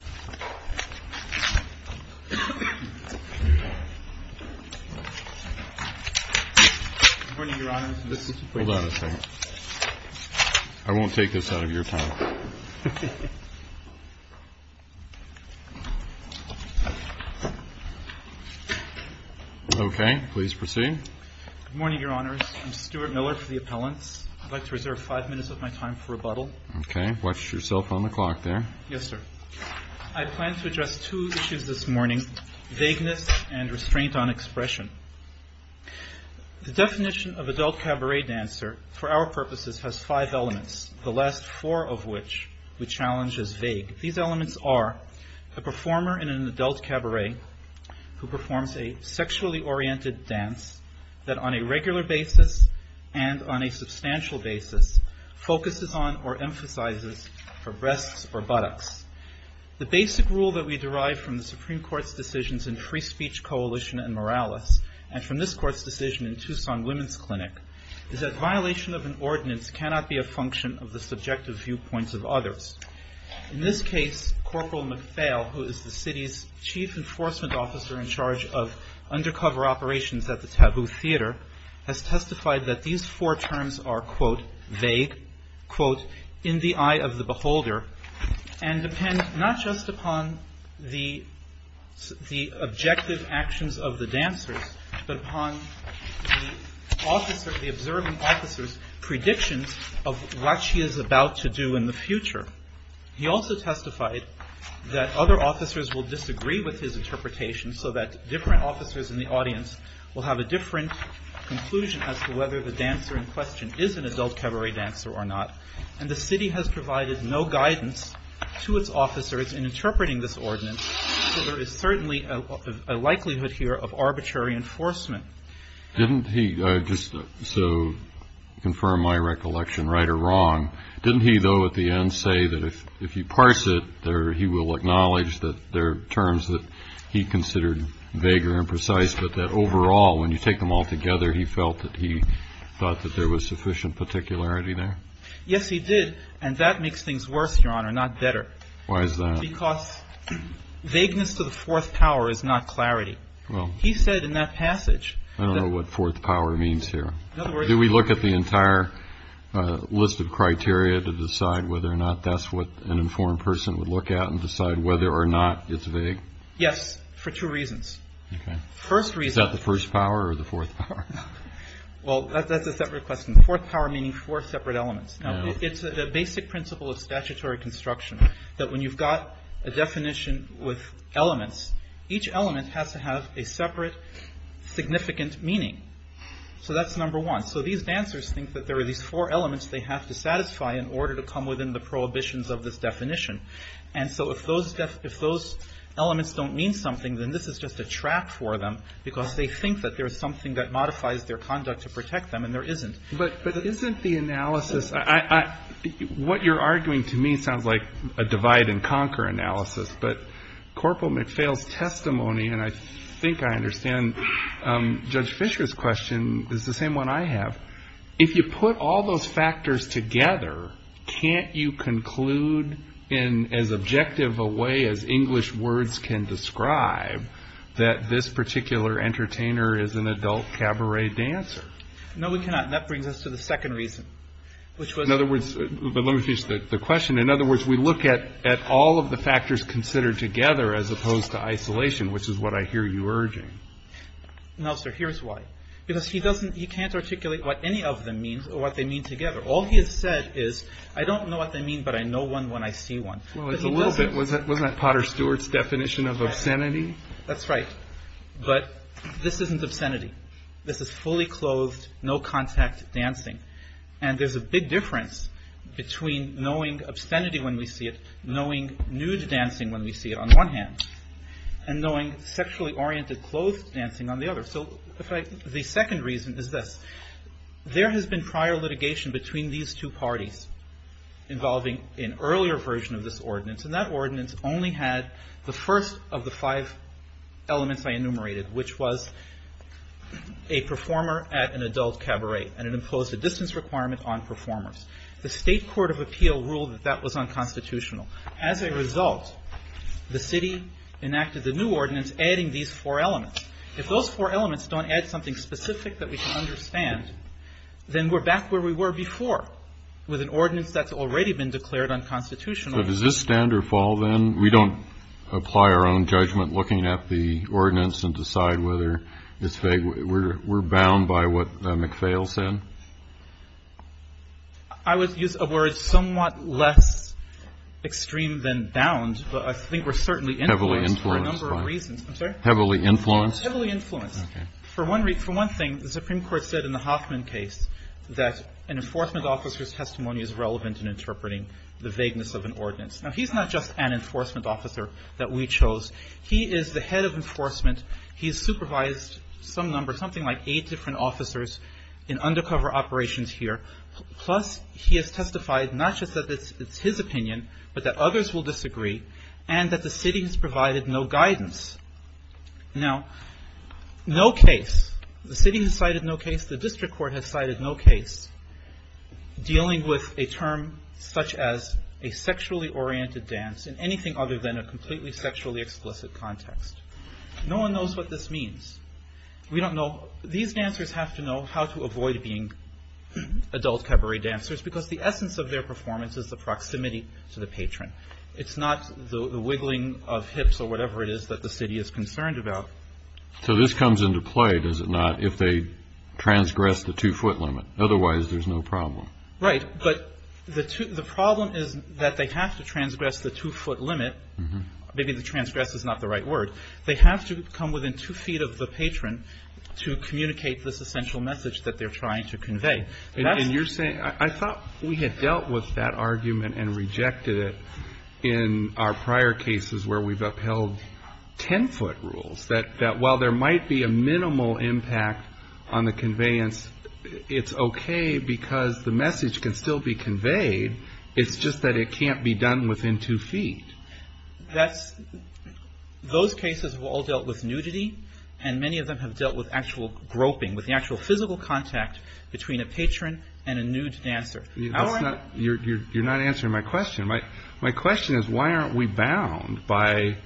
Good morning, your honors. I'm Stuart Miller for the appellants. I'd like to reserve five minutes of my time for rebuttal. Okay. Watch yourself on the clock there. Yes, sir. I plan to address two issues this morning, vagueness and restraint on expression. The definition of adult cabaret dancer for our purposes has five elements, the last four of which we challenge as vague. These elements are a performer in an adult cabaret who performs a sexually oriented dance that on a regular basis and on a substantial basis focuses on or emphasizes her breasts or buttocks. The basic rule that we derive from the Supreme Court's decisions in Free Speech Coalition and Morales, and from this court's decision in Tucson Women's Clinic, is that violation of an ordinance cannot be a function of the subjective viewpoints of others. In this case, Corporal McPhail, who is the city's chief enforcement officer in charge of undercover operations at the Taboo Theater, has testified that these four terms are, quote, vague, quote, in the eye of the beholder, and depend not just upon the objective actions of the dancers, but upon the observing officer's predictions of what she is about to do in the future. He also testified that other officers will disagree with his interpretation, so that different officers in the audience will have a different conclusion as to whether the dancer in question is an adult cabaret dancer or not. And the city has provided no guidance to its officers in interpreting this ordinance, so there is certainly a likelihood here of arbitrary enforcement. Didn't he, just to confirm my recollection, right or wrong, didn't he though at the end say that if you parse it, he will acknowledge that there are terms that he considered vague or imprecise, but that overall, when you take them all together, he felt that he thought that there was sufficient particularity there? Yes, he did. And that makes things worse, Your Honor, not better. Why is that? Because vagueness to the fourth power is not clarity. He said in that passage that I don't know what fourth power means here. In other words Do we look at the entire list of criteria to decide whether or not that's what an informed person would look at and decide whether or not it's vague? Yes, for two reasons. First reason Is that the first power or the fourth power? Well, that's a separate question. Fourth power meaning four separate elements. Now, it's a basic principle of statutory construction that when you've got a definition with elements, each element has to have a separate significant meaning. So that's number one. So these dancers think that there are these four elements they have to satisfy in order to come within the prohibitions of this definition. And so if those elements don't mean something, then this is just a trap for them because they think that there's something that modifies their conduct to protect them, and there isn't. But isn't the analysis, what you're arguing to me sounds like a divide and conquer analysis, but Corporal McPhail's testimony, and I think I understand Judge Fischer's question, is the same one I have. If you put all those factors together, can't you conclude in as objective a way as English words can describe that this particular entertainer is an adult cabaret dancer? No, we cannot. That brings us to the second reason, which was In other words, but let me finish the question. In other words, we look at all of the factors considered together as opposed to isolation, which is what I hear you urging. Now, sir, here's why. Because he can't articulate what any of them means or what they mean together. All he has said is, I don't know what they mean, but I know one when I see one. Well, it's a little bit. Wasn't that Potter Stewart's definition of obscenity? That's right. But this isn't obscenity. This is fully clothed, no contact dancing. And there's a big difference between knowing obscenity when we see it, knowing nude dancing when we see it on one hand, and knowing sexually oriented clothed dancing on the other. So the second reason is this. There has been prior litigation between these two parties involving an earlier version of this ordinance, and that ordinance only had the first of the five elements I enumerated, which was a performer at an adult cabaret, and it imposed a distance requirement on performers. The state court of appeal ruled that that was unconstitutional. As a result, the city enacted the new ordinance adding these four elements. If those four elements don't add something specific that we can understand, then we're back where we were before with an ordinance that's already been declared unconstitutional. But does this stand or fall, then? We don't apply our own judgment looking at the ordinance and decide whether it's vague. We're bound by what McPhail said? I would use a word somewhat less extreme than bound, but I think we're certainly influenced for a number of reasons. Heavily influenced? Heavily influenced. For one thing, the Supreme Court said in the Hoffman case that an enforcement officer's testimony is relevant in interpreting the vagueness of an ordinance. Now, he's not just an enforcement officer that we chose. He is the head of enforcement. He has supervised some number, something like eight different officers in undercover operations here. Plus, he has testified not just that it's his opinion, but that others will disagree, and that the city has provided no guidance. Now, no case. The city has cited no case. The district court has cited no case dealing with a term such as a sexually oriented dance in anything other than a completely sexually explicit context. No one knows what this means. We don't know. These dancers have to know how to avoid being adult cabaret dancers because the essence of their performance is the proximity to the patron. It's not the wiggling of hips or whatever it is that the city is concerned about. So this comes into play, does it not, if they transgress the two-foot limit? Otherwise, there's no problem. Right. But the problem is that they have to transgress the two-foot limit. Maybe the transgress is not the right word. They have to come within two feet of the patron to communicate this essential message that they're trying to convey. And you're saying, I thought we had dealt with that argument and rejected it in our prior cases where we've upheld ten-foot rules, that while there might be a minimal impact on the conveyance, it's okay because the message can still be conveyed. It's just that it can't be done within two feet. Those cases have all dealt with nudity, and many of them have dealt with actual groping, with the actual physical contact between a patron and a nude dancer. You're not answering my question. My question is, why aren't we bound by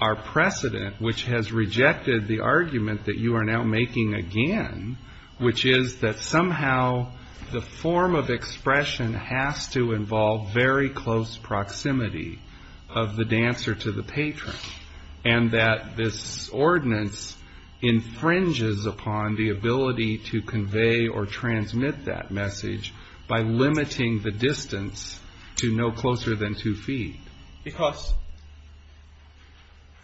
our precedent which has rejected the argument that you are now making again, which is that somehow the form of expression has to involve very close proximity of the dancer to the patron, and that this ordinance infringes upon the ability to convey or transmit that message by limiting the distance to no closer than two feet? Because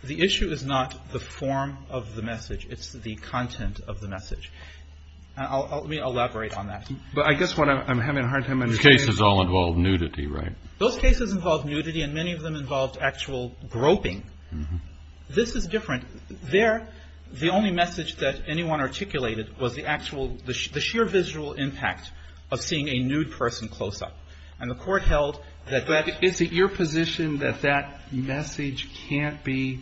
the issue is not the form of the message. It's the content of the message. Let me elaborate on that. But I guess what I'm having a hard time understanding is... Those cases all involve nudity, right? Those cases involve nudity, and many of them involved actual groping. This is different. There, the only message that anyone articulated was the actual, the sheer visual impact of seeing a nude person close up. And the Court held that that... The question that that message can't be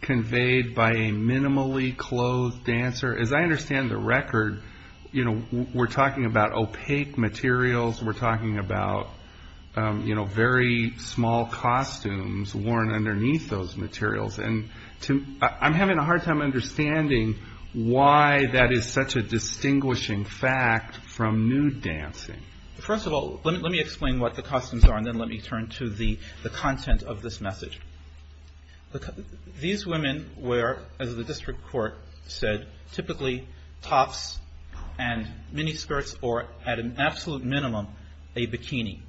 conveyed by a minimally clothed dancer, as I understand the record, we're talking about opaque materials. We're talking about very small costumes worn underneath those materials. And I'm having a hard time understanding why that is such a distinguishing fact from nude dancing. First of all, let me explain what the costumes are, and then let me turn to the content of this message. These women wear, as the District Court said, typically tops and miniskirts or, at an absolute minimum, a bikini.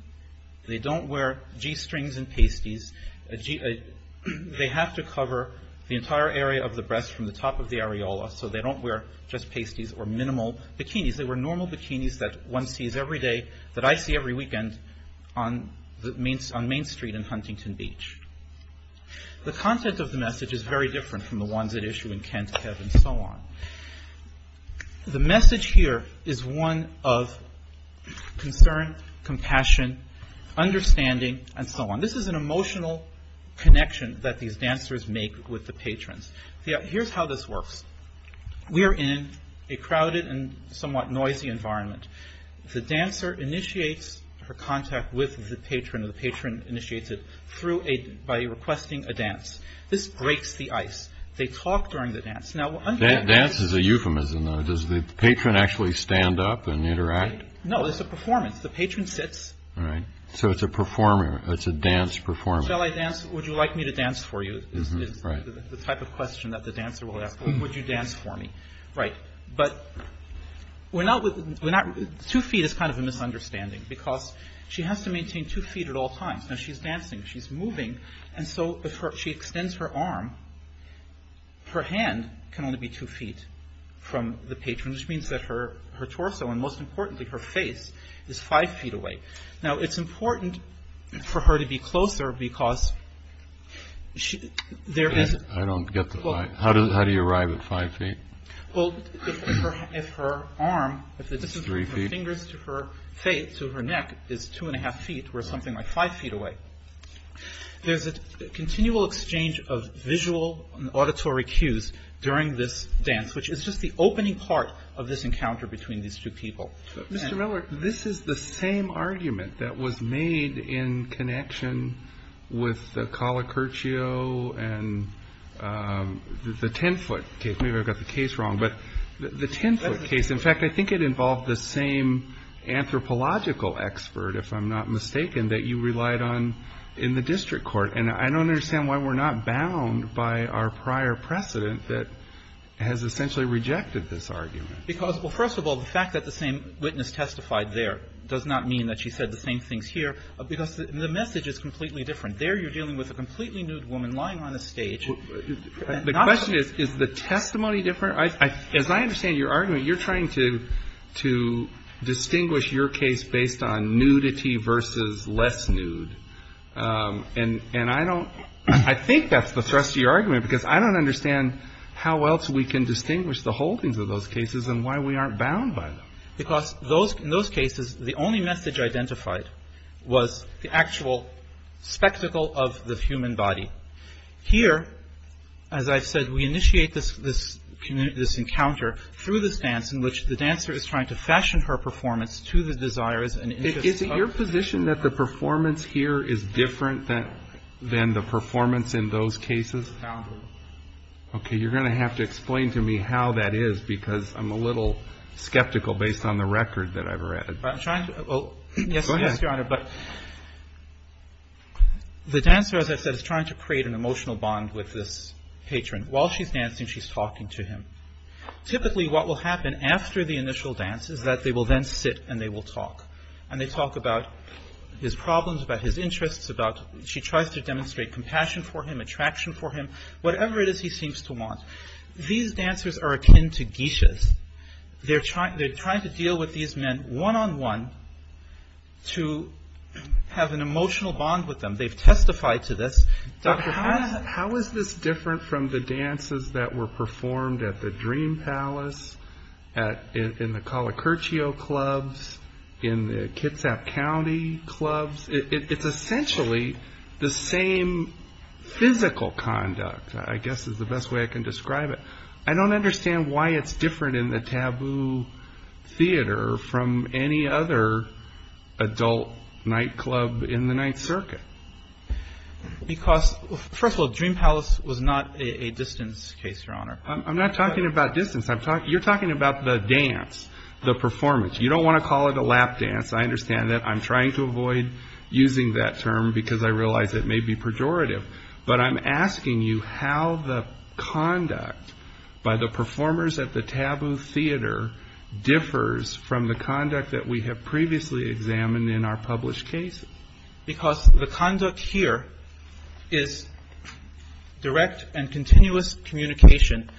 They don't wear G-strings and pasties. They have to cover the entire area of the breast from the top of the areola, so they don't wear just pasties or minimal bikinis. They wear normal bikinis that one sees every day, that I see every weekend on Main Street and Huntington Beach. The content of the message is very different from the ones at issue in Kent, Kev, and so on. The message here is one of concern, compassion, understanding, and so on. This is an emotional connection that these dancers make with the patrons. Here's how this works. We are in a crowded and somewhat noisy environment. The dancer initiates her contact with the patron, or the patron initiates it, by requesting a dance. This breaks the ice. They talk during the dance. Now, under the... Dance is a euphemism, though. Does the patron actually stand up and interact? No, it's a performance. The patron sits. Right. So it's a performer. It's a dance performance. Shall I dance? Would you like me to dance for you, is the type of question that the dancer will ask. Would you dance for me? Right. Two feet is kind of a misunderstanding, because she has to maintain two feet at all times. She's dancing. She's moving. If she extends her arm, her hand can only be two feet from the patron, which means that her torso, and most importantly, her face, is five feet away. Now, it's important for her to be closer, because there is... I don't get the five. How do you arrive at five feet? Well, if her arm, if the distance from her fingers to her face, to her neck, is two and a half feet, we're something like five feet away. There's a continual exchange of visual and auditory cues during this dance, which is just the opening part of this encounter between these two people. Mr. Miller, this is the same argument that was made in connection with the Colocurtio and the 10-foot case. Maybe I got the case wrong. But the 10-foot case, in fact, I think it involved the same anthropological expert, if I'm not mistaken, that you relied on in the district court. And I don't understand why we're not bound by our prior precedent that has essentially rejected this argument. Because, well, first of all, the fact that the same witness testified there does not mean that she said the same things here, because the message is completely different. There you're dealing with a completely nude woman lying on a stage. The question is, is the testimony different? As I understand your argument, you're trying to distinguish your case based on nudity versus less nude. And I don't... I think that's the thrust of your argument, because I don't understand how else we can distinguish the holdings of those cases and why we aren't bound by them. Because in those cases, the only message identified was the actual spectacle of the human body. Here, as I've said, we initiate this encounter through this dance in which the dancer is trying to fashion her performance to the desires and interests of... Is it your position that the performance here is different than the performance in those cases? Boundary. Okay, you're going to have to explain to me how that is, because I'm a little skeptical based on the record that I've read. I'm trying to... Go ahead. Yes, Your Honor, but the dancer, as I've said, is trying to create an emotional bond with this patron. While she's dancing, she's talking to him. Typically, what will happen after the initial dance is that they will then sit and they will talk. And they talk about his problems, about his interests, about... She tries to demonstrate compassion for him, attraction for him, whatever it is he seems to want. These dancers are akin to geishas. They're trying to deal with these men one-on-one to have an emotional bond with them. They've testified to this. How is this different from the dances that were performed at the Dream Palace, in the Calacurchio Clubs, in the Kitsap County Clubs? It's essentially the same physical concept of conduct, I guess is the best way I can describe it. I don't understand why it's different in the Taboo Theater from any other adult nightclub in the Ninth Circuit. Because first of all, Dream Palace was not a distance case, Your Honor. I'm not talking about distance. You're talking about the dance, the performance. You don't want to call it a lap dance. I understand that. I'm trying to avoid using that term because I realize it may be pejorative, but I'm asking you how the conduct by the performers at the Taboo Theater differs from the conduct that we have previously examined in our published cases. Because the conduct here is direct and continuous communication,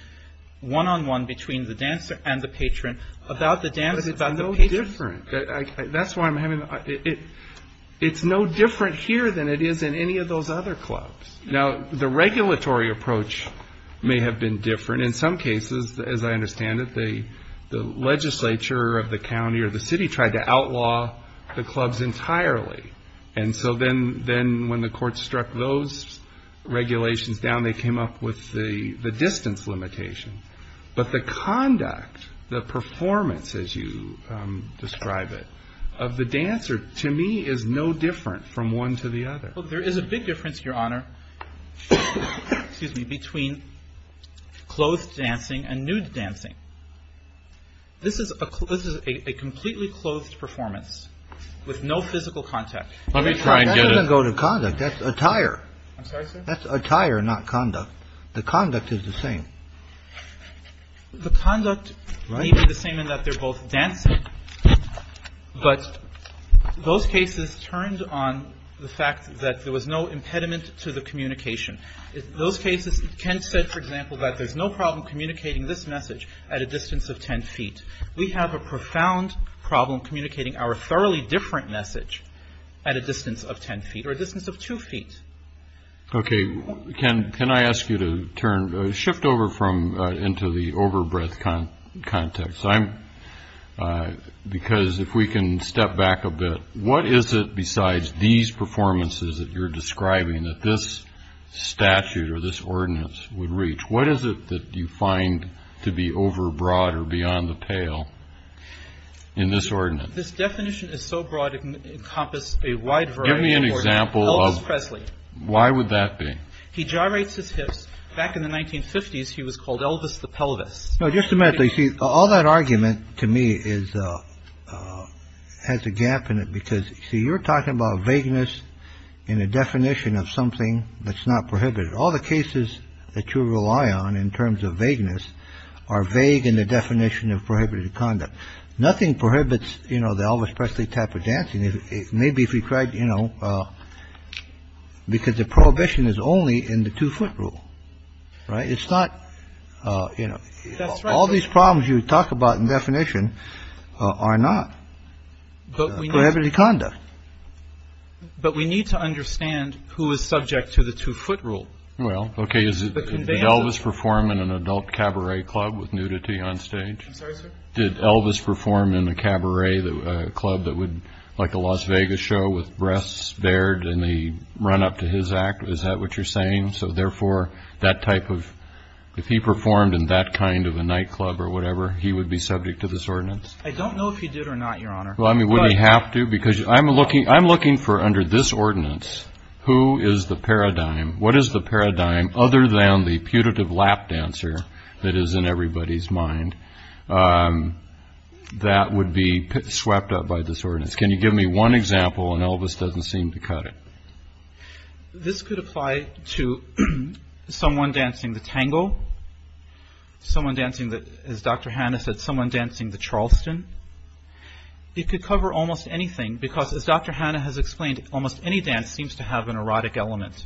one-on-one between the dancer and the patron, about the dance, about the patron. It's different. It's no different here than it is in any of those other clubs. The regulatory approach may have been different. In some cases, as I understand it, the legislature of the county or the city tried to outlaw the clubs entirely. Then when the court struck those regulations down, they came up with the distance limitation. But the conduct, the performance, as you describe it, of the dancer, to me, is no different from one to the other. Well, there is a big difference, Your Honor, between clothed dancing and nude dancing. This is a completely clothed performance with no physical contact. That doesn't go to conduct. That's attire. I'm sorry, sir? That's attire, not conduct. The conduct is the same. The conduct may be the same in that they're both dancing, but those cases turned on the fact that there was no impediment to the communication. Those cases, Kent said, for example, that there's no problem communicating this message at a distance of 10 feet. We have a profound problem communicating our thoroughly different message at a distance of 10 feet or a distance of two feet. OK. Can can I ask you to turn shift over from into the overbreadth kind of context? I'm because if we can step back a bit, what is it besides these performances that you're describing that this statute or this ordinance would reach? What is it that you find to be overbroad or beyond the pale in this ordinance? This definition is so broad it can encompass a wide variety. Give me an example of Presley. Why would that be? He generates his hips back in the 1950s. He was called Elvis the pelvis. No, just a minute. They see all that argument to me is has a gap in it because you're talking about vagueness in a definition of something that's not prohibited. All the cases that you rely on in terms of vagueness are vague in the definition of prohibited conduct. Nothing prohibits, you know, the Elvis Presley type of dancing. Maybe if you tried, you know, because the prohibition is only in the two foot rule. Right. It's not, you know, all these problems you talk about in definition are not. But we have any conduct. But we need to understand who is subject to the two foot rule. Well, OK. Is it Elvis perform in an adult cabaret club with nudity on stage? Did Elvis perform in a cabaret club that would like a Las Vegas show with breasts bared in the run up to his act? Is that what you're saying? So therefore, that type of if he performed in that kind of a nightclub or whatever, he would be subject to this ordinance. I don't know if he did or not, Your Honor. Well, I mean, would he have to? Because I'm looking I'm looking for under this ordinance. Who is the paradigm? What is the paradigm other than the putative lap dancer that is in everybody's mind? And that would be swept up by this ordinance. Can you give me one example? And Elvis doesn't seem to cut it. This could apply to someone dancing the tango. Someone dancing that is Dr. Hannah said someone dancing the Charleston. It could cover almost anything, because, as Dr. Hannah has explained, almost any dance seems to have an erotic element.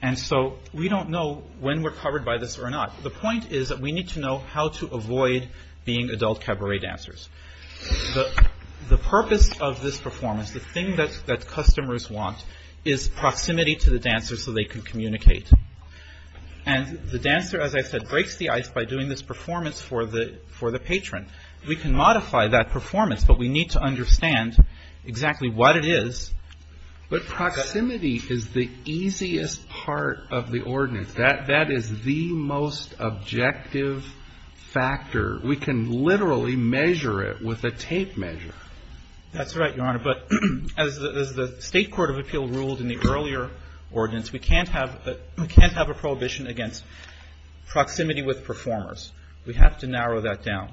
And so we don't know when we're covered by this or not. The point is that we need to know how to avoid being adult cabaret dancers. The purpose of this performance, the thing that that customers want is proximity to the dancers so they can communicate. And the dancer, as I said, breaks the ice by doing this performance for the for the patron. We can modify that performance, but we need to understand exactly what it is. But proximity is the easiest part of the ordinance. That that is the most objective factor. We can literally measure it with a tape measure. That's right, Your Honor. But as the State Court of Appeal ruled in the earlier ordinance, we can't have we can't have a prohibition against proximity with performers. We have to narrow that down.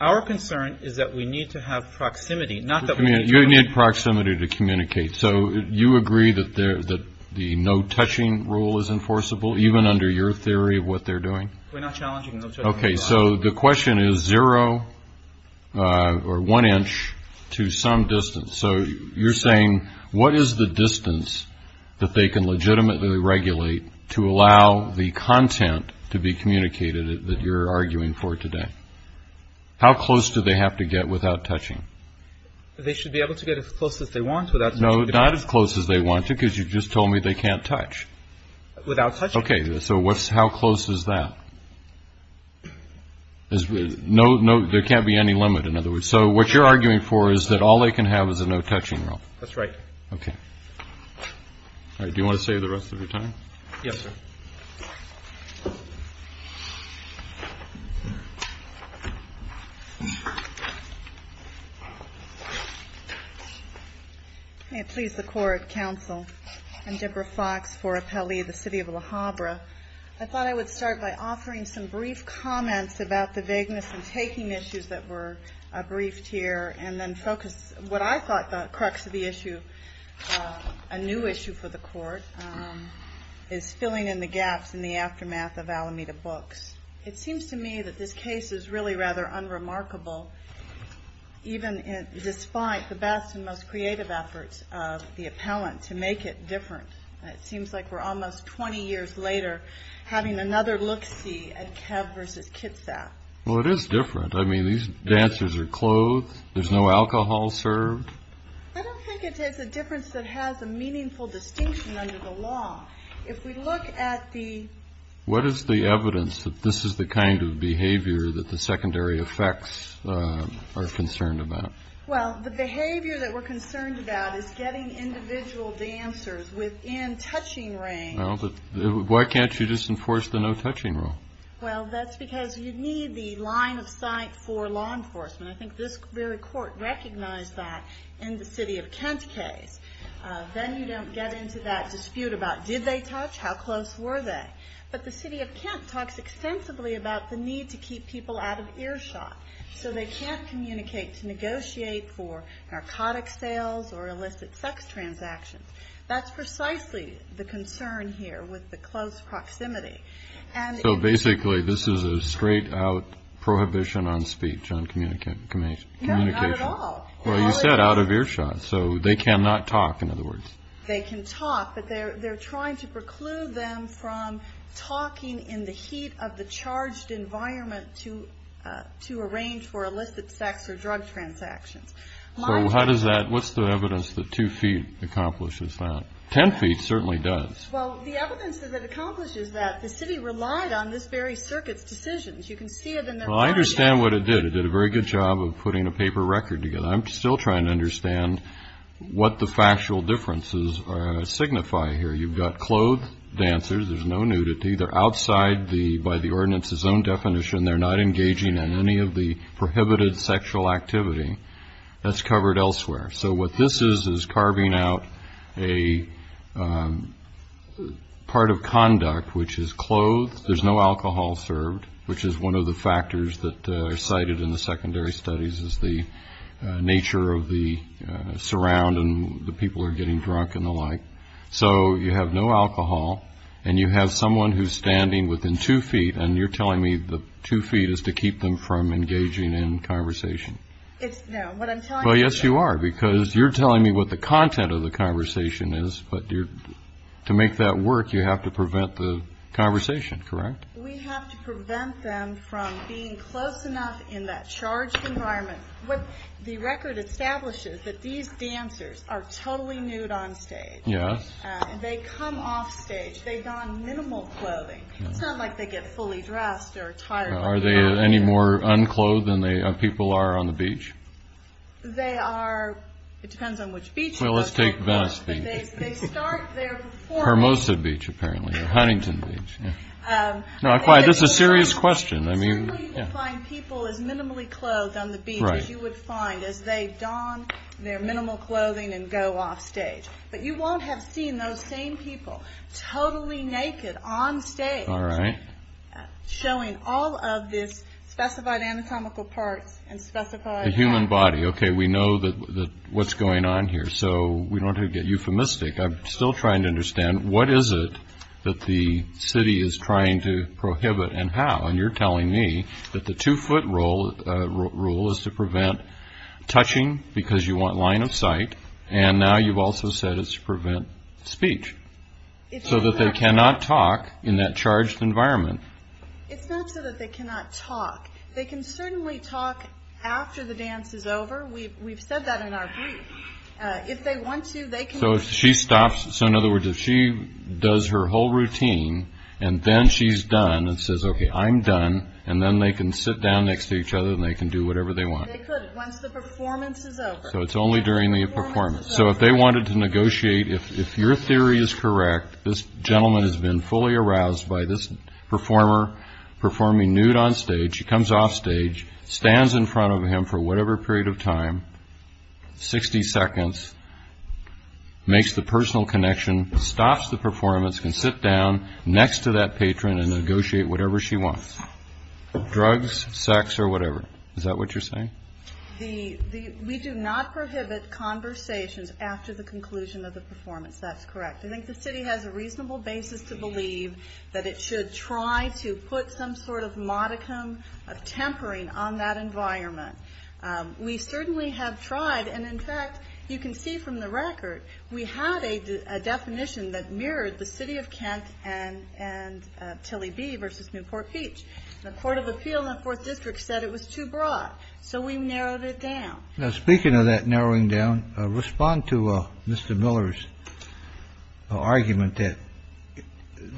Our concern is that we need to have proximity, not that we need proximity to communicate. So you agree that there that the no touching rule is enforceable, even under your theory of what they're doing? We're not challenging. OK, so the question is zero or one inch to some distance. So you're saying what is the distance that they can legitimately regulate to allow the content to be communicated that you're arguing for today? How close do they have to get without touching? They should be able to get as close as they want. No, not as close as they want to, because you just told me they can't touch without touch. OK, so what's how close is that? No, no, there can't be any limit. In other words, so what you're arguing for is that all they can have is a no touching rule. That's right. OK. Do you want to say the rest of the time? Yes. May it please the court, counsel and Deborah Fox for Appellee of the City of Alhambra. I thought I would start by offering some brief comments about the vagueness in taking issues that were briefed here and then focus what I thought the crux of the issue, a new issue for the court is filling in the gaps in the aftermath of Alameda Books. It seems to me that this case is really rather unremarkable, even despite the best and the appellant to make it different. It seems like we're almost 20 years later having another look at Kev versus Kitsap. Well, it is different. I mean, these dancers are clothed. There's no alcohol served. I don't think it is a difference that has a meaningful distinction under the law. If we look at the. What is the evidence that this is the kind of behavior that the secondary effects are concerned about? Well, the behavior that we're concerned about is getting individual dancers within touching range. Why can't you disenforce the no touching rule? Well, that's because you need the line of sight for law enforcement. I think this very court recognized that in the city of Kent case. Then you don't get into that dispute about did they touch? How close were they? But the city of Kent talks extensively about the need to keep people out of earshot so they can't communicate to negotiate for narcotic sales or illicit sex transactions. That's precisely the concern here with the close proximity. And so basically, this is a straight out prohibition on speech on communication, communication at all. Well, you said out of earshot, so they cannot talk. In other words, they can talk, but they're trying to preclude them from talking in the heat of the charged environment to to arrange for illicit sex or drug transactions. So how does that what's the evidence that two feet accomplishes that? Ten feet certainly does. Well, the evidence that it accomplishes that the city relied on this very circuit's decisions. You can see it. Well, I understand what it did. It did a very good job of putting a paper record together. I'm still trying to understand what the factual differences signify here. You've got clothed dancers. There's no nudity. They're outside the by the ordinance's own definition. They're not engaging in any of the prohibited sexual activity that's covered elsewhere. So what this is is carving out a part of conduct which is clothed. There's no alcohol served, which is one of the factors that are cited in the secondary studies is the nature of the surround and the people are getting drunk and the like. So you have no alcohol and you have someone who's standing within two feet and you're telling me the two feet is to keep them from engaging in conversation. It's now what I'm well, yes, you are, because you're telling me what the content of the conversation is. But to make that work, you have to prevent the conversation. Correct. We have to prevent them from being close enough in that charged environment. What the record establishes that these dancers are totally nude on stage. Yes, they come off stage. They don minimal clothing. It's not like they get fully dressed or tired. Are they any more unclothed than they are? People are on the beach. They are. It depends on which beach. Well, let's take Venice Beach, Hermosa Beach, apparently Huntington Beach. Not quite. This is a serious question. I mean, people as minimally clothed on the beach as you would find as they don their minimal clothing and go off stage. But you won't have seen those same people totally naked on stage showing all of this specified anatomical parts and specified the human body. OK, we know that what's going on here. So we don't have to get euphemistic. I'm still trying to understand what is it that the city is trying to prohibit and how. And you're telling me that the two foot rule is to prevent touching because you want line of sight. And now you've also said it's to prevent speech so that they cannot talk in that charged environment. It's not so that they cannot talk. They can certainly talk after the dance is over. We've said that in our brief. If they want to, they can. So if she stops. So in other words, if she does her whole routine and then she's done and says, OK, I'm done. And then they can sit down next to each other and they can do whatever they want. They could once the performance is over. So it's only during the performance. So if they wanted to negotiate, if your theory is correct, this gentleman has been fully aroused by this performer performing nude on stage. She comes off stage, stands in front of him for whatever period of time, 60 seconds, makes the personal connection, stops the performance, can sit down next to that patron and negotiate whatever she wants, drugs, sex or whatever. Is that what you're saying? We do not prohibit conversations after the conclusion of the performance. That's correct. I think the city has a reasonable basis to believe that it should try to put some sort of modicum of tempering on that environment. We certainly have tried. And in fact, you can see from the record, we had a definition that mirrored the city of Kent and Tilly B versus Newport Beach. The Court of Appeal in the 4th District said it was too broad. So we narrowed it down. Now, speaking of that narrowing down, respond to Mr. Miller's argument that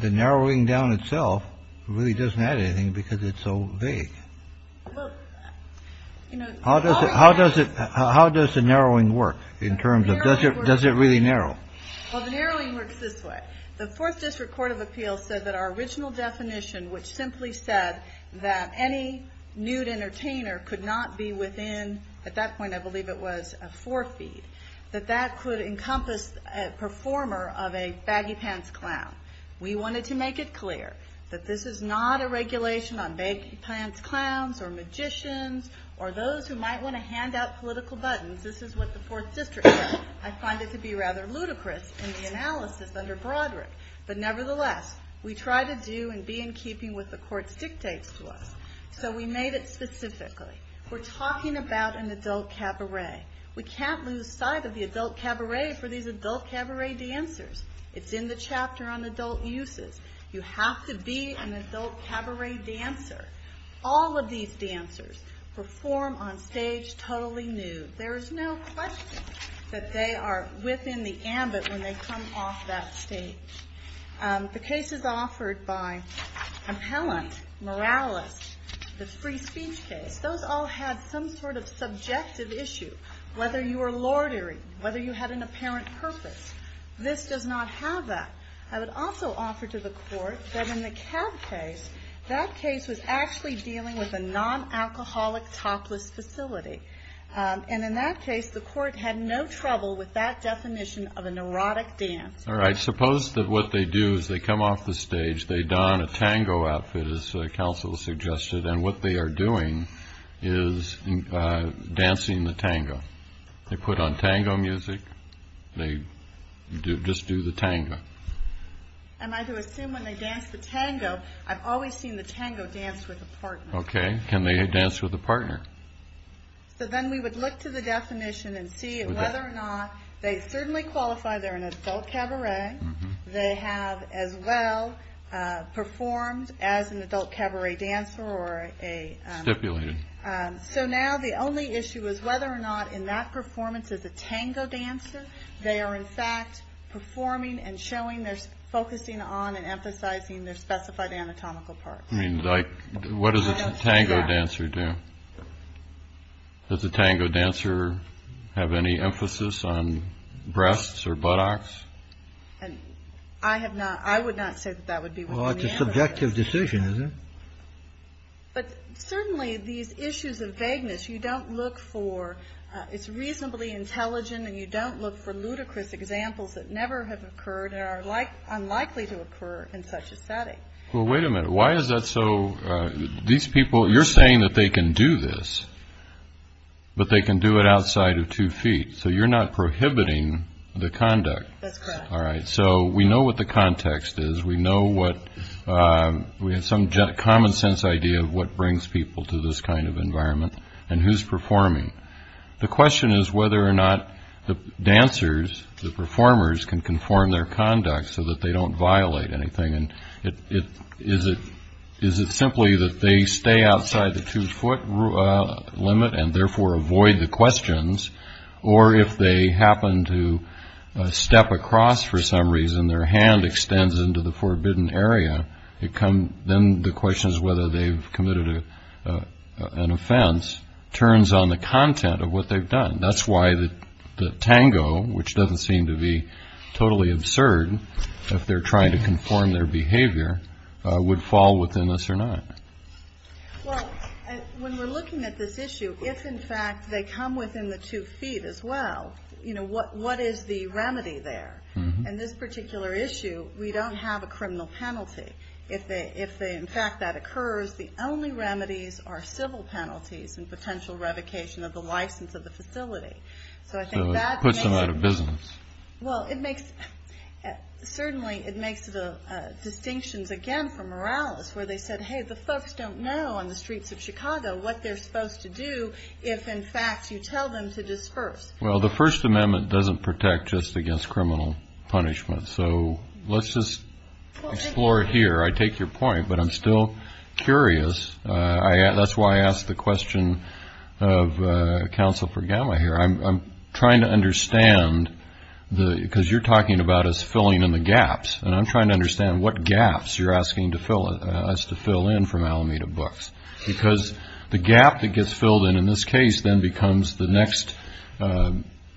the narrowing down itself really doesn't add anything because it's so vague. How does it how does it how does the narrowing work in terms of does it does it really narrow? Well, the narrowing works this way. The 4th District Court of Appeal said that our original definition, which simply said that any nude entertainer could not be within, at that point, I believe it was a four feet, that that could encompass a performer of a baggy pants clown. We wanted to make it clear that this is not a regulation on baggy pants clowns or magicians or those who might want to hand out political buttons. This is what the 4th District said. I find it to be rather ludicrous in the analysis under Broderick. But nevertheless, we try to do and be in keeping with the court's dictates to us. So we made it specifically. We're talking about an adult cabaret. We can't lose sight of the adult cabaret for these adult cabaret dancers. It's in the chapter on adult uses. You have to be an adult cabaret dancer. All of these dancers perform on stage totally nude. There is no question that they are within the ambit when they come off that stage. The cases offered by Appellant, Morales, the free speech case, those all had some sort of subjective issue, whether you were lordary, whether you had an apparent purpose. This does not have that. I would also offer to the court that in the cab case, that case was actually dealing with a non-alcoholic topless facility. And in that case, the court had no trouble with that definition of a neurotic dance. All right. Suppose that what they do is they come off the stage. They don a tango outfit, as counsel suggested. And what they are doing is dancing the tango. They put on tango music. They do just do the tango. Am I to assume when they dance the tango, I've always seen the tango dance with a partner. Okay. Can they dance with a partner? So then we would look to the definition and see whether or not they certainly qualify. They're an adult cabaret. They have as well performed as an adult cabaret dancer or a stipulated. So now the only issue is whether or not in that performance is a tango dancer. They are in fact performing and showing there's focusing on and emphasizing their specified anatomical part. I mean, like, what does a tango dancer do? Does the tango dancer have any emphasis on breasts or buttocks? And I have not I would not say that that would be a subjective decision. But certainly these issues of vagueness you don't look for. It's reasonably intelligent and you don't look for ludicrous examples that never have occurred and are like unlikely to occur in such a setting. Well, wait a minute. Why is that? So these people you're saying that they can do this. But they can do it outside of two feet. So you're not prohibiting the conduct. All right. So we know what the context is. We know what we have some common sense idea of what brings people to this kind of environment and who's performing. The question is whether or not the dancers, the performers can conform their conduct so that they don't violate anything. And it is it is it simply that they stay outside the two foot limit and therefore avoid the questions. Or if they happen to step across for some reason, their hand extends into the forbidden area. It come then the question is whether they've committed an offense turns on the content of what they've done. That's why the tango, which doesn't seem to be totally absurd if they're trying to perform their behavior, would fall within this or not. Well, when we're looking at this issue, if in fact they come within the two feet as well, you know, what what is the remedy there in this particular issue? We don't have a criminal penalty if they if they in fact that occurs. The only remedies are civil penalties and potential revocation of the license of the facility. So I think that puts them out of business. Well, it makes certainly it makes the distinctions again for Morales, where they said, hey, the folks don't know on the streets of Chicago what they're supposed to do. If in fact you tell them to disperse. Well, the First Amendment doesn't protect just against criminal punishment. So let's just explore it here. I take your point, but I'm still curious. That's why I asked the question of counsel for Gamma here. I'm trying to understand the because you're talking about us filling in the gaps and I'm trying to understand what gaps you're asking to fill us to fill in from Alameda books because the gap that gets filled in in this case then becomes the next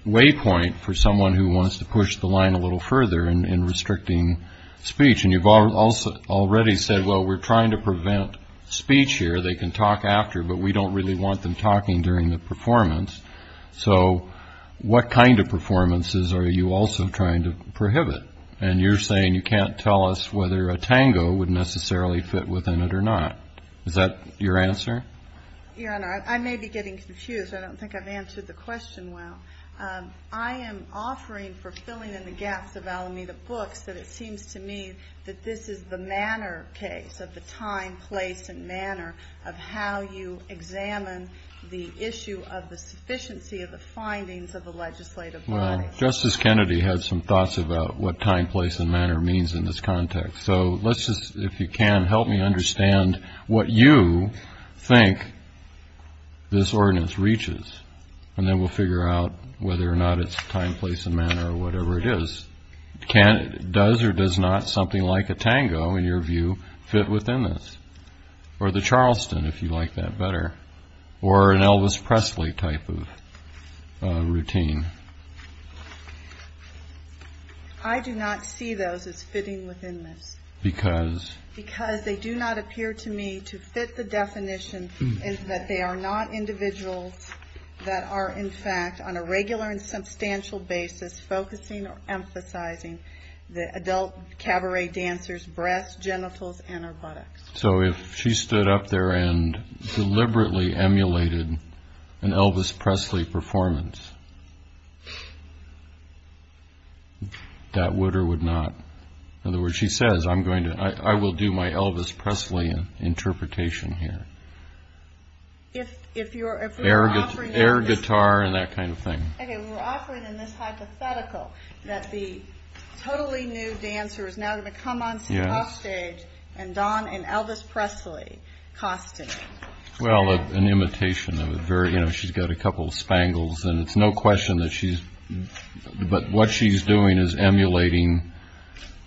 waypoint for someone who wants to push the line a little further in restricting speech. And you've already said, well, we're trying to prevent speech here. They can talk after, but we don't really want them talking during the performance. So what kind of performances are you also trying to prohibit? And you're saying you can't tell us whether a tango would necessarily fit within it or not. Is that your answer? Your Honor, I may be getting confused. I don't think I've answered the question well. I am offering for filling in the gaps of Alameda books that it seems to me that this is the time, place and manner of how you examine the issue of the sufficiency of the findings of the legislative body. Justice Kennedy had some thoughts about what time, place and manner means in this context. So let's just, if you can help me understand what you think this ordinance reaches and then we'll figure out whether or not it's time, place and manner or whatever it is. Does or does not something like a tango, in your view, fit within this or the Charleston, if you like that better, or an Elvis Presley type of routine? I do not see those as fitting within this because they do not appear to me to fit the definition that they are not individuals that are, in fact, on a regular and substantial basis, focusing or emphasizing the adult cabaret dancers' breasts, genitals and buttocks. So if she stood up there and deliberately emulated an Elvis Presley performance, that would or would not, in other words, she says, I'm going to, I will do my Elvis Presley interpretation here. If you're, if you're offering air guitar and that kind of thing. OK, we're offering in this hypothetical that the totally new dancer is now going to come on stage and don an Elvis Presley costume. Well, an imitation of a very, you know, she's got a couple of spangles and it's no question that she's. But what she's doing is emulating.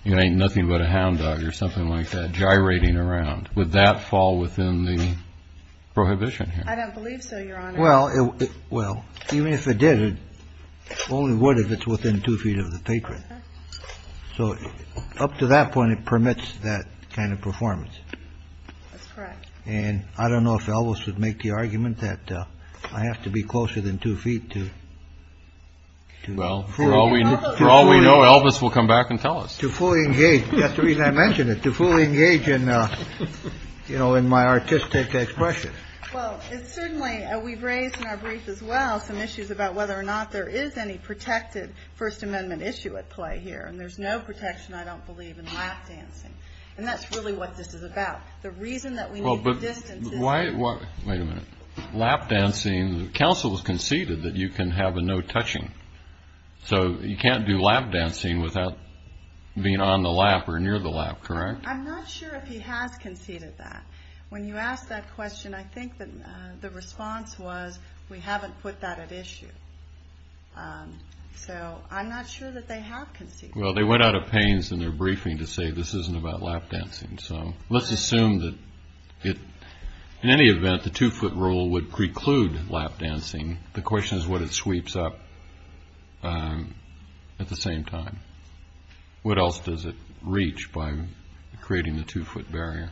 It ain't nothing but a hound dog or something like that, gyrating around with that fall within the prohibition. I don't believe so. Well, well, even if it did, it only would if it's within two feet of the patron. So up to that point, it permits that kind of performance. And I don't know if Elvis would make the argument that I have to be closer than two feet to. Well, for all we know, Elvis will come back and tell us to fully engage. That's the reason I mentioned it, to fully engage in, you know, in my artistic expression. Well, it's certainly we've raised in our brief as well some issues about whether or not there is any protected First Amendment issue at play here. And there's no protection. I don't believe in lap dancing. And that's really what this is about. The reason that we. Well, but why? Wait a minute. Lap dancing. Council has conceded that you can have a no touching. So you can't do lap dancing without being on the lap or near the lap. Correct. I'm not sure if he has conceded that. When you ask that question, I think that the response was we haven't put that at issue. So I'm not sure that they have conceived. Well, they went out of pains in their briefing to say this isn't about lap dancing. So let's assume that in any event, the two foot rule would preclude lap dancing. The question is what it sweeps up at the same time. What else does it reach by creating the two foot barrier?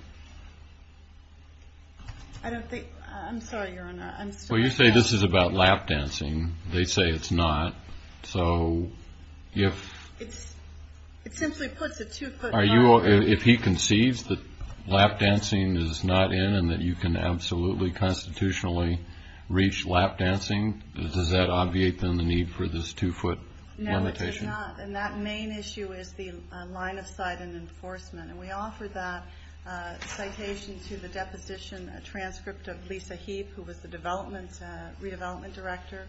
I don't think. I'm sorry, Your Honor. I'm sorry. You say this is about lap dancing. They say it's not. So if it's it simply puts a two foot. Are you. If he concedes that lap dancing is not in and that you can absolutely constitutionally reach lap dancing, does that obviate the need for this two foot limitation? And that main issue is the line of sight and enforcement. And we offer that citation to the deposition, a transcript of Lisa Heap, who was the development redevelopment director,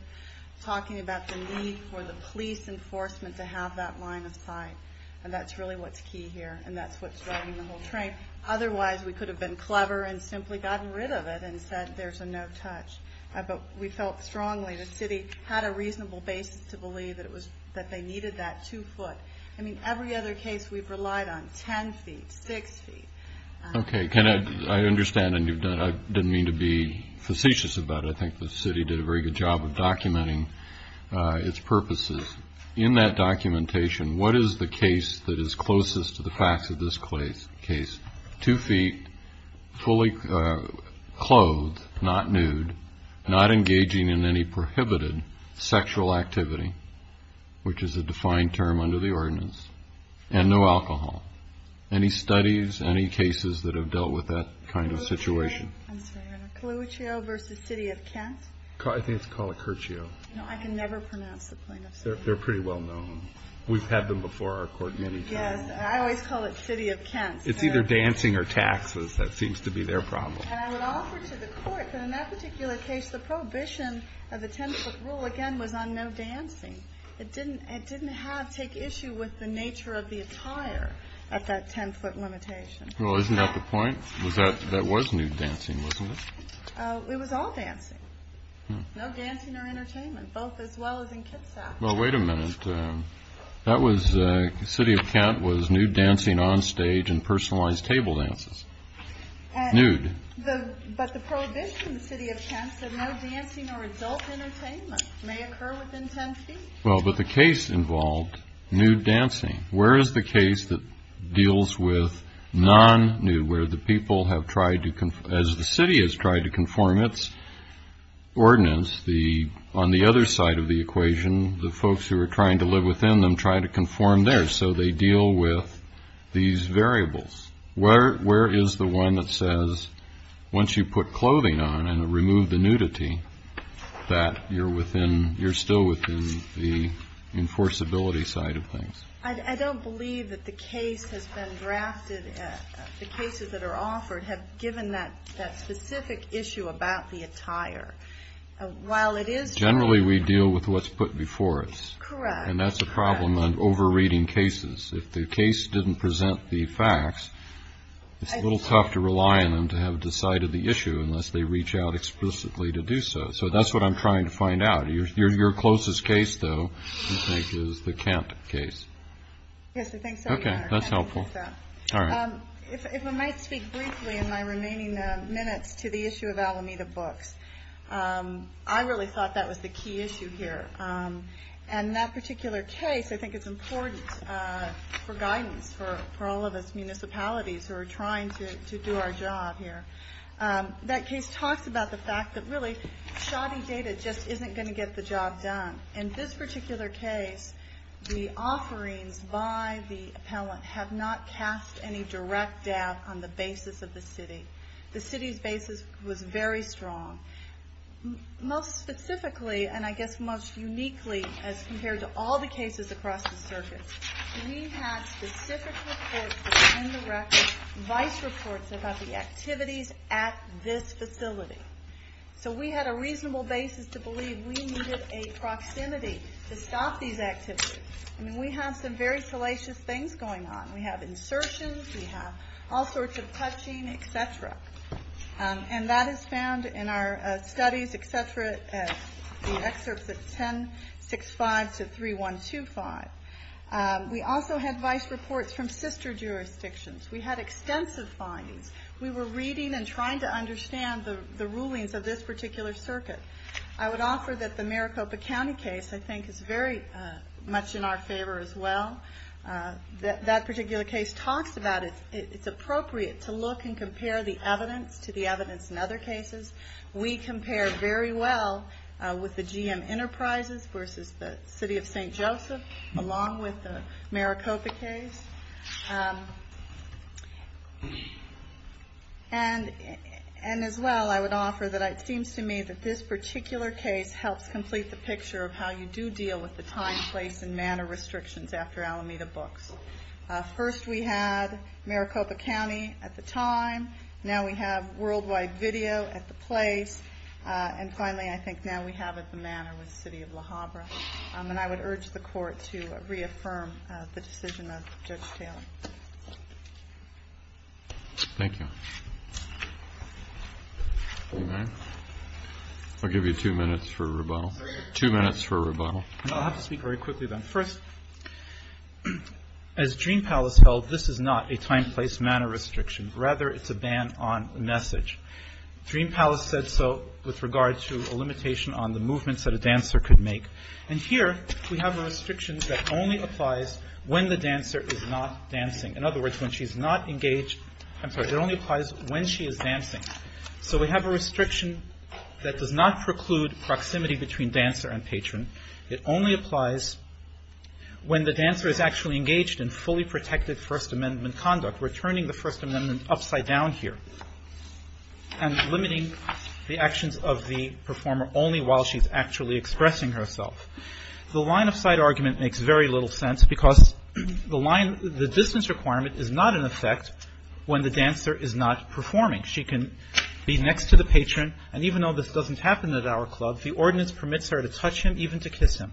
talking about the need for the police enforcement to have that line of sight. And that's really what's key here. And that's what's driving the whole train. Otherwise, we could have been clever and simply gotten rid of it and said there's a no touch. But we felt strongly the city had a reasonable basis to believe that it was that they needed that two foot. I mean, every other case we've relied on 10 feet, six feet. Okay. Can I understand? And you've done. I didn't mean to be facetious about it. I think the city did a very good job of documenting its purposes in that documentation. What is the case that is closest to the facts of this case? Two feet, fully clothed, not nude, not engaging in any prohibited sexual activity, which is a defined term under the ordinance, and no alcohol. Any studies, any cases that have dealt with that kind of situation? I'm sorry, I don't know, Colucheo versus City of Kent? I think it's called Colucheo. No, I can never pronounce the plaintiff's name. They're pretty well known. We've had them before our court many times. Yes, I always call it City of Kent. It's either dancing or taxes. That seems to be their problem. And I would offer to the court that in that particular case, the prohibition of the 10 foot rule, again, was on no dancing. It didn't take issue with the nature of the attire at that 10 foot limitation. Well, isn't that the point? That was nude dancing, wasn't it? It was all dancing. No dancing or entertainment, both as well as in Kitsap. Well, wait a minute. That was, City of Kent was nude dancing on stage and personalized table dances. Nude. But the prohibition in the City of Kent said no dancing or adult entertainment may occur within 10 feet. Well, but the case involved nude dancing. Where is the case that deals with non-nude, where the people have tried to, as the city has tried to conform its ordinance, on the other side of the equation, the folks who are trying to live within them try to conform there. So they deal with these variables. Where, where is the one that says once you put clothing on and remove the nudity, that you're within, you're still within the enforceability side of things. I don't believe that the case has been drafted. The cases that are offered have given that that specific issue about the attire. While it is generally we deal with what's put before us. Correct. And that's a problem on over reading cases. If the case didn't present the facts, it's a little tough to rely on them to have decided the issue unless they reach out explicitly to do so. So that's what I'm trying to find out. Your, your, your closest case, though, I think is the Kent case. Yes, I think so. OK, that's helpful. If I might speak briefly in my remaining minutes to the issue of Alameda books, I really thought that was the key issue here. And that particular case, I think it's important for guidance for all of us municipalities who are trying to do our job here. That case talks about the fact that really shoddy data just isn't going to get the job done. In this particular case, the offerings by the appellant have not cast any direct doubt on the basis of the city. The city's basis was very strong. Most specifically, and I guess most uniquely as compared to all the cases across the circuit, we had specific reports that were in the records, vice reports about the activities at this facility. So we had a reasonable basis to believe we needed a proximity to stop these activities. I mean, we have some very salacious things going on. We have insertions. We have all sorts of touching, et cetera. And that is found in our studies, et cetera, excerpts at 1065 to 3125. We also had vice reports from sister jurisdictions. We had extensive findings. We were reading and trying to understand the rulings of this particular circuit. I would offer that the Maricopa County case, I think, is very much in our favor as well. That particular case talks about it. It's appropriate to look and compare the evidence to the evidence in other cases. We compare very well with the GM Enterprises versus the city of St. Joseph, along with the Maricopa case. And as well, I would offer that it seems to me that this particular case helps complete the picture of how you do deal with the time, place, and manner restrictions after Alameda books. First, we had Maricopa County at the time. Now we have worldwide video at the place. And finally, I think now we have it the manner with the city of La Habra. And I would urge the court to reaffirm the decision of Judge Taylor. Thank you. I'll give you two minutes for rebuttal. Two minutes for rebuttal. I'll have to speak very quickly then. First, as Dream Palace held, this is not a time, place, manner restriction. Rather, it's a ban on message. Dream Palace said so with regard to a limitation on the movements that a dancer could make. And here we have a restriction that only applies when the dancer is not dancing. In other words, when she's not engaged, it only applies when she is dancing. So we have a restriction that does not preclude proximity between dancer and patron. It only applies when the dancer is actually engaged in fully protected First Amendment conduct, returning the First Amendment upside down here and limiting the actions of the performer only while she's actually expressing herself. The line of sight argument makes very little sense because the distance requirement is not in effect when the dancer is not performing. She can be next to the patron. And even though this doesn't happen at our club, the ordinance permits her to touch him even to kiss him.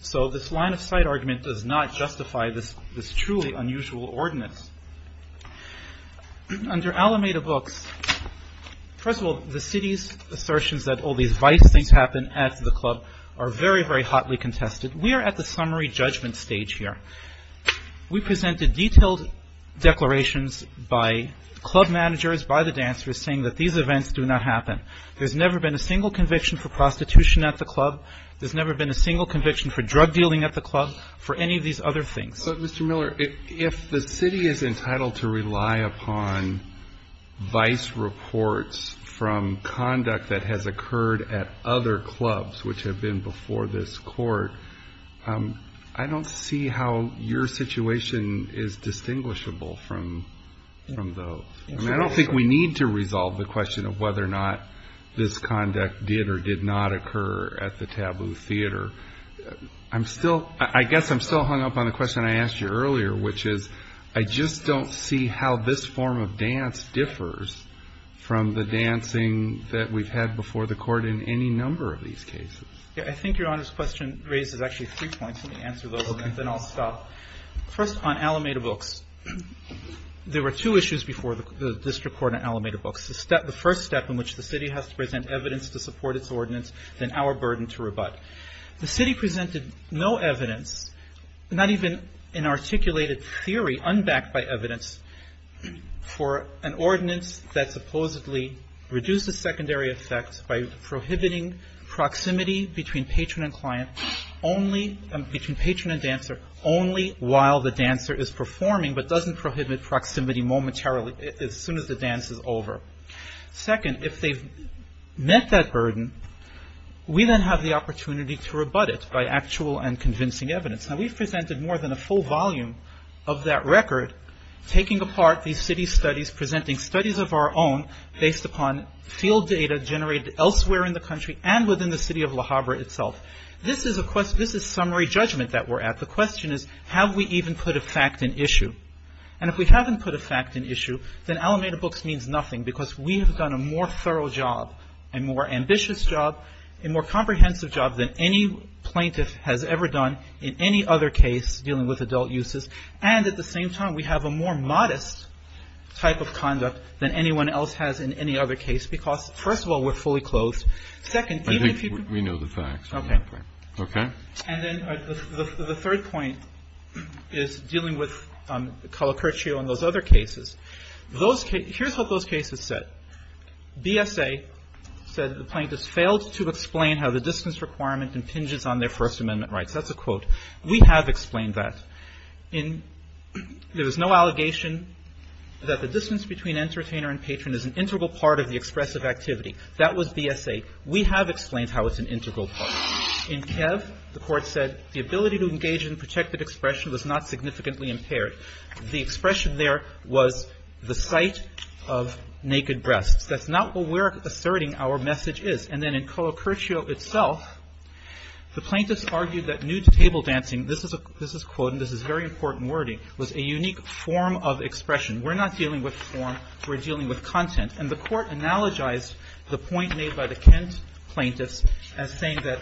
So this line of sight argument does not justify this truly unusual ordinance. Under Alameda Books, first of all, the city's assertions that all these vice things happen at the club are very, very hotly contested. We are at the summary judgment stage here. We presented detailed declarations by club managers, by the dancers, saying that these events do not happen. There's never been a single conviction for drug dealing at the club for any of these other things. Mr. Miller, if the city is entitled to rely upon vice reports from conduct that has occurred at other clubs, which have been before this court, I don't see how your situation is distinguishable from those. I don't think we need to resolve the question of whether or not this conduct did or did not occur at the taboo theater. I'm still, I guess I'm still hung up on the question I asked you earlier, which is I just don't see how this form of dance differs from the dancing that we've had before the court in any number of these cases. Yeah, I think Your Honor's question raises actually three points. Let me answer those and then I'll stop. First on Alameda Books, there were two issues before the district court in Alameda Books. The first step in which the city has to present evidence to support its ordinance than our burden to rebut. The city presented no evidence, not even an articulated theory unbacked by evidence for an ordinance that supposedly reduces secondary effects by prohibiting proximity between patron and client only, between patron and dancer only while the dancer is performing, but doesn't prohibit proximity momentarily as soon as the dance is over. Second, if they've met that burden, we then have the opportunity to rebut it by actual and convincing evidence. Now we've presented more than a full volume of that record, taking apart these city studies, presenting studies of our own based upon field data generated elsewhere in the country and within the city of Le Havre itself. This is a summary judgment that we're at. The question is, have we even put a fact in issue? And if we haven't put a fact in issue, then Alameda Books means nothing because we have done a more thorough job, a more ambitious job, a more comprehensive job than any plaintiff has ever done in any other case dealing with adult uses. And at the same time, we have a more modest type of conduct than anyone else has in any other case because, first of all, we're fully clothed. Second, even if you can Kennedy. We know the facts. Okay. Okay. And then the third point is dealing with Calacertio and those other cases. Here's what those cases said. BSA said the plaintiffs failed to explain how the distance requirement impinges on their First Amendment rights. That's a quote. We have explained that. There was no allegation that the distance between entertainer and patron is an integral part of the expressive activity. That was BSA. We have explained how it's an integral part. In Kev, the Court said the ability to engage in protected expression was not significantly impaired. The expression there was the sight of naked breasts. That's not what we're asserting our message is. And then in Calacertio itself, the plaintiffs argued that nude table dancing, this is a this is quote, and this is very important wording, was a unique form of expression. We're not dealing with form. We're dealing with content. And the Court analogized the point made by the Kent plaintiffs as saying that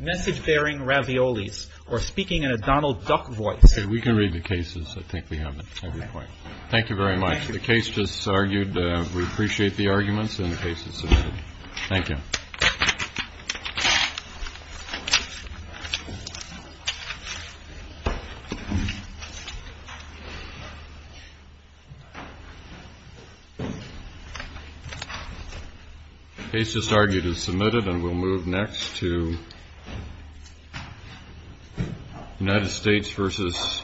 message bearing raviolis or speaking in a Donald Duck voice. We can read the cases. I think we have every point. Thank you very much. The case just argued. We appreciate the arguments in the cases. Thank you. The case just argued is submitted and we'll move next to United States versus Edwards.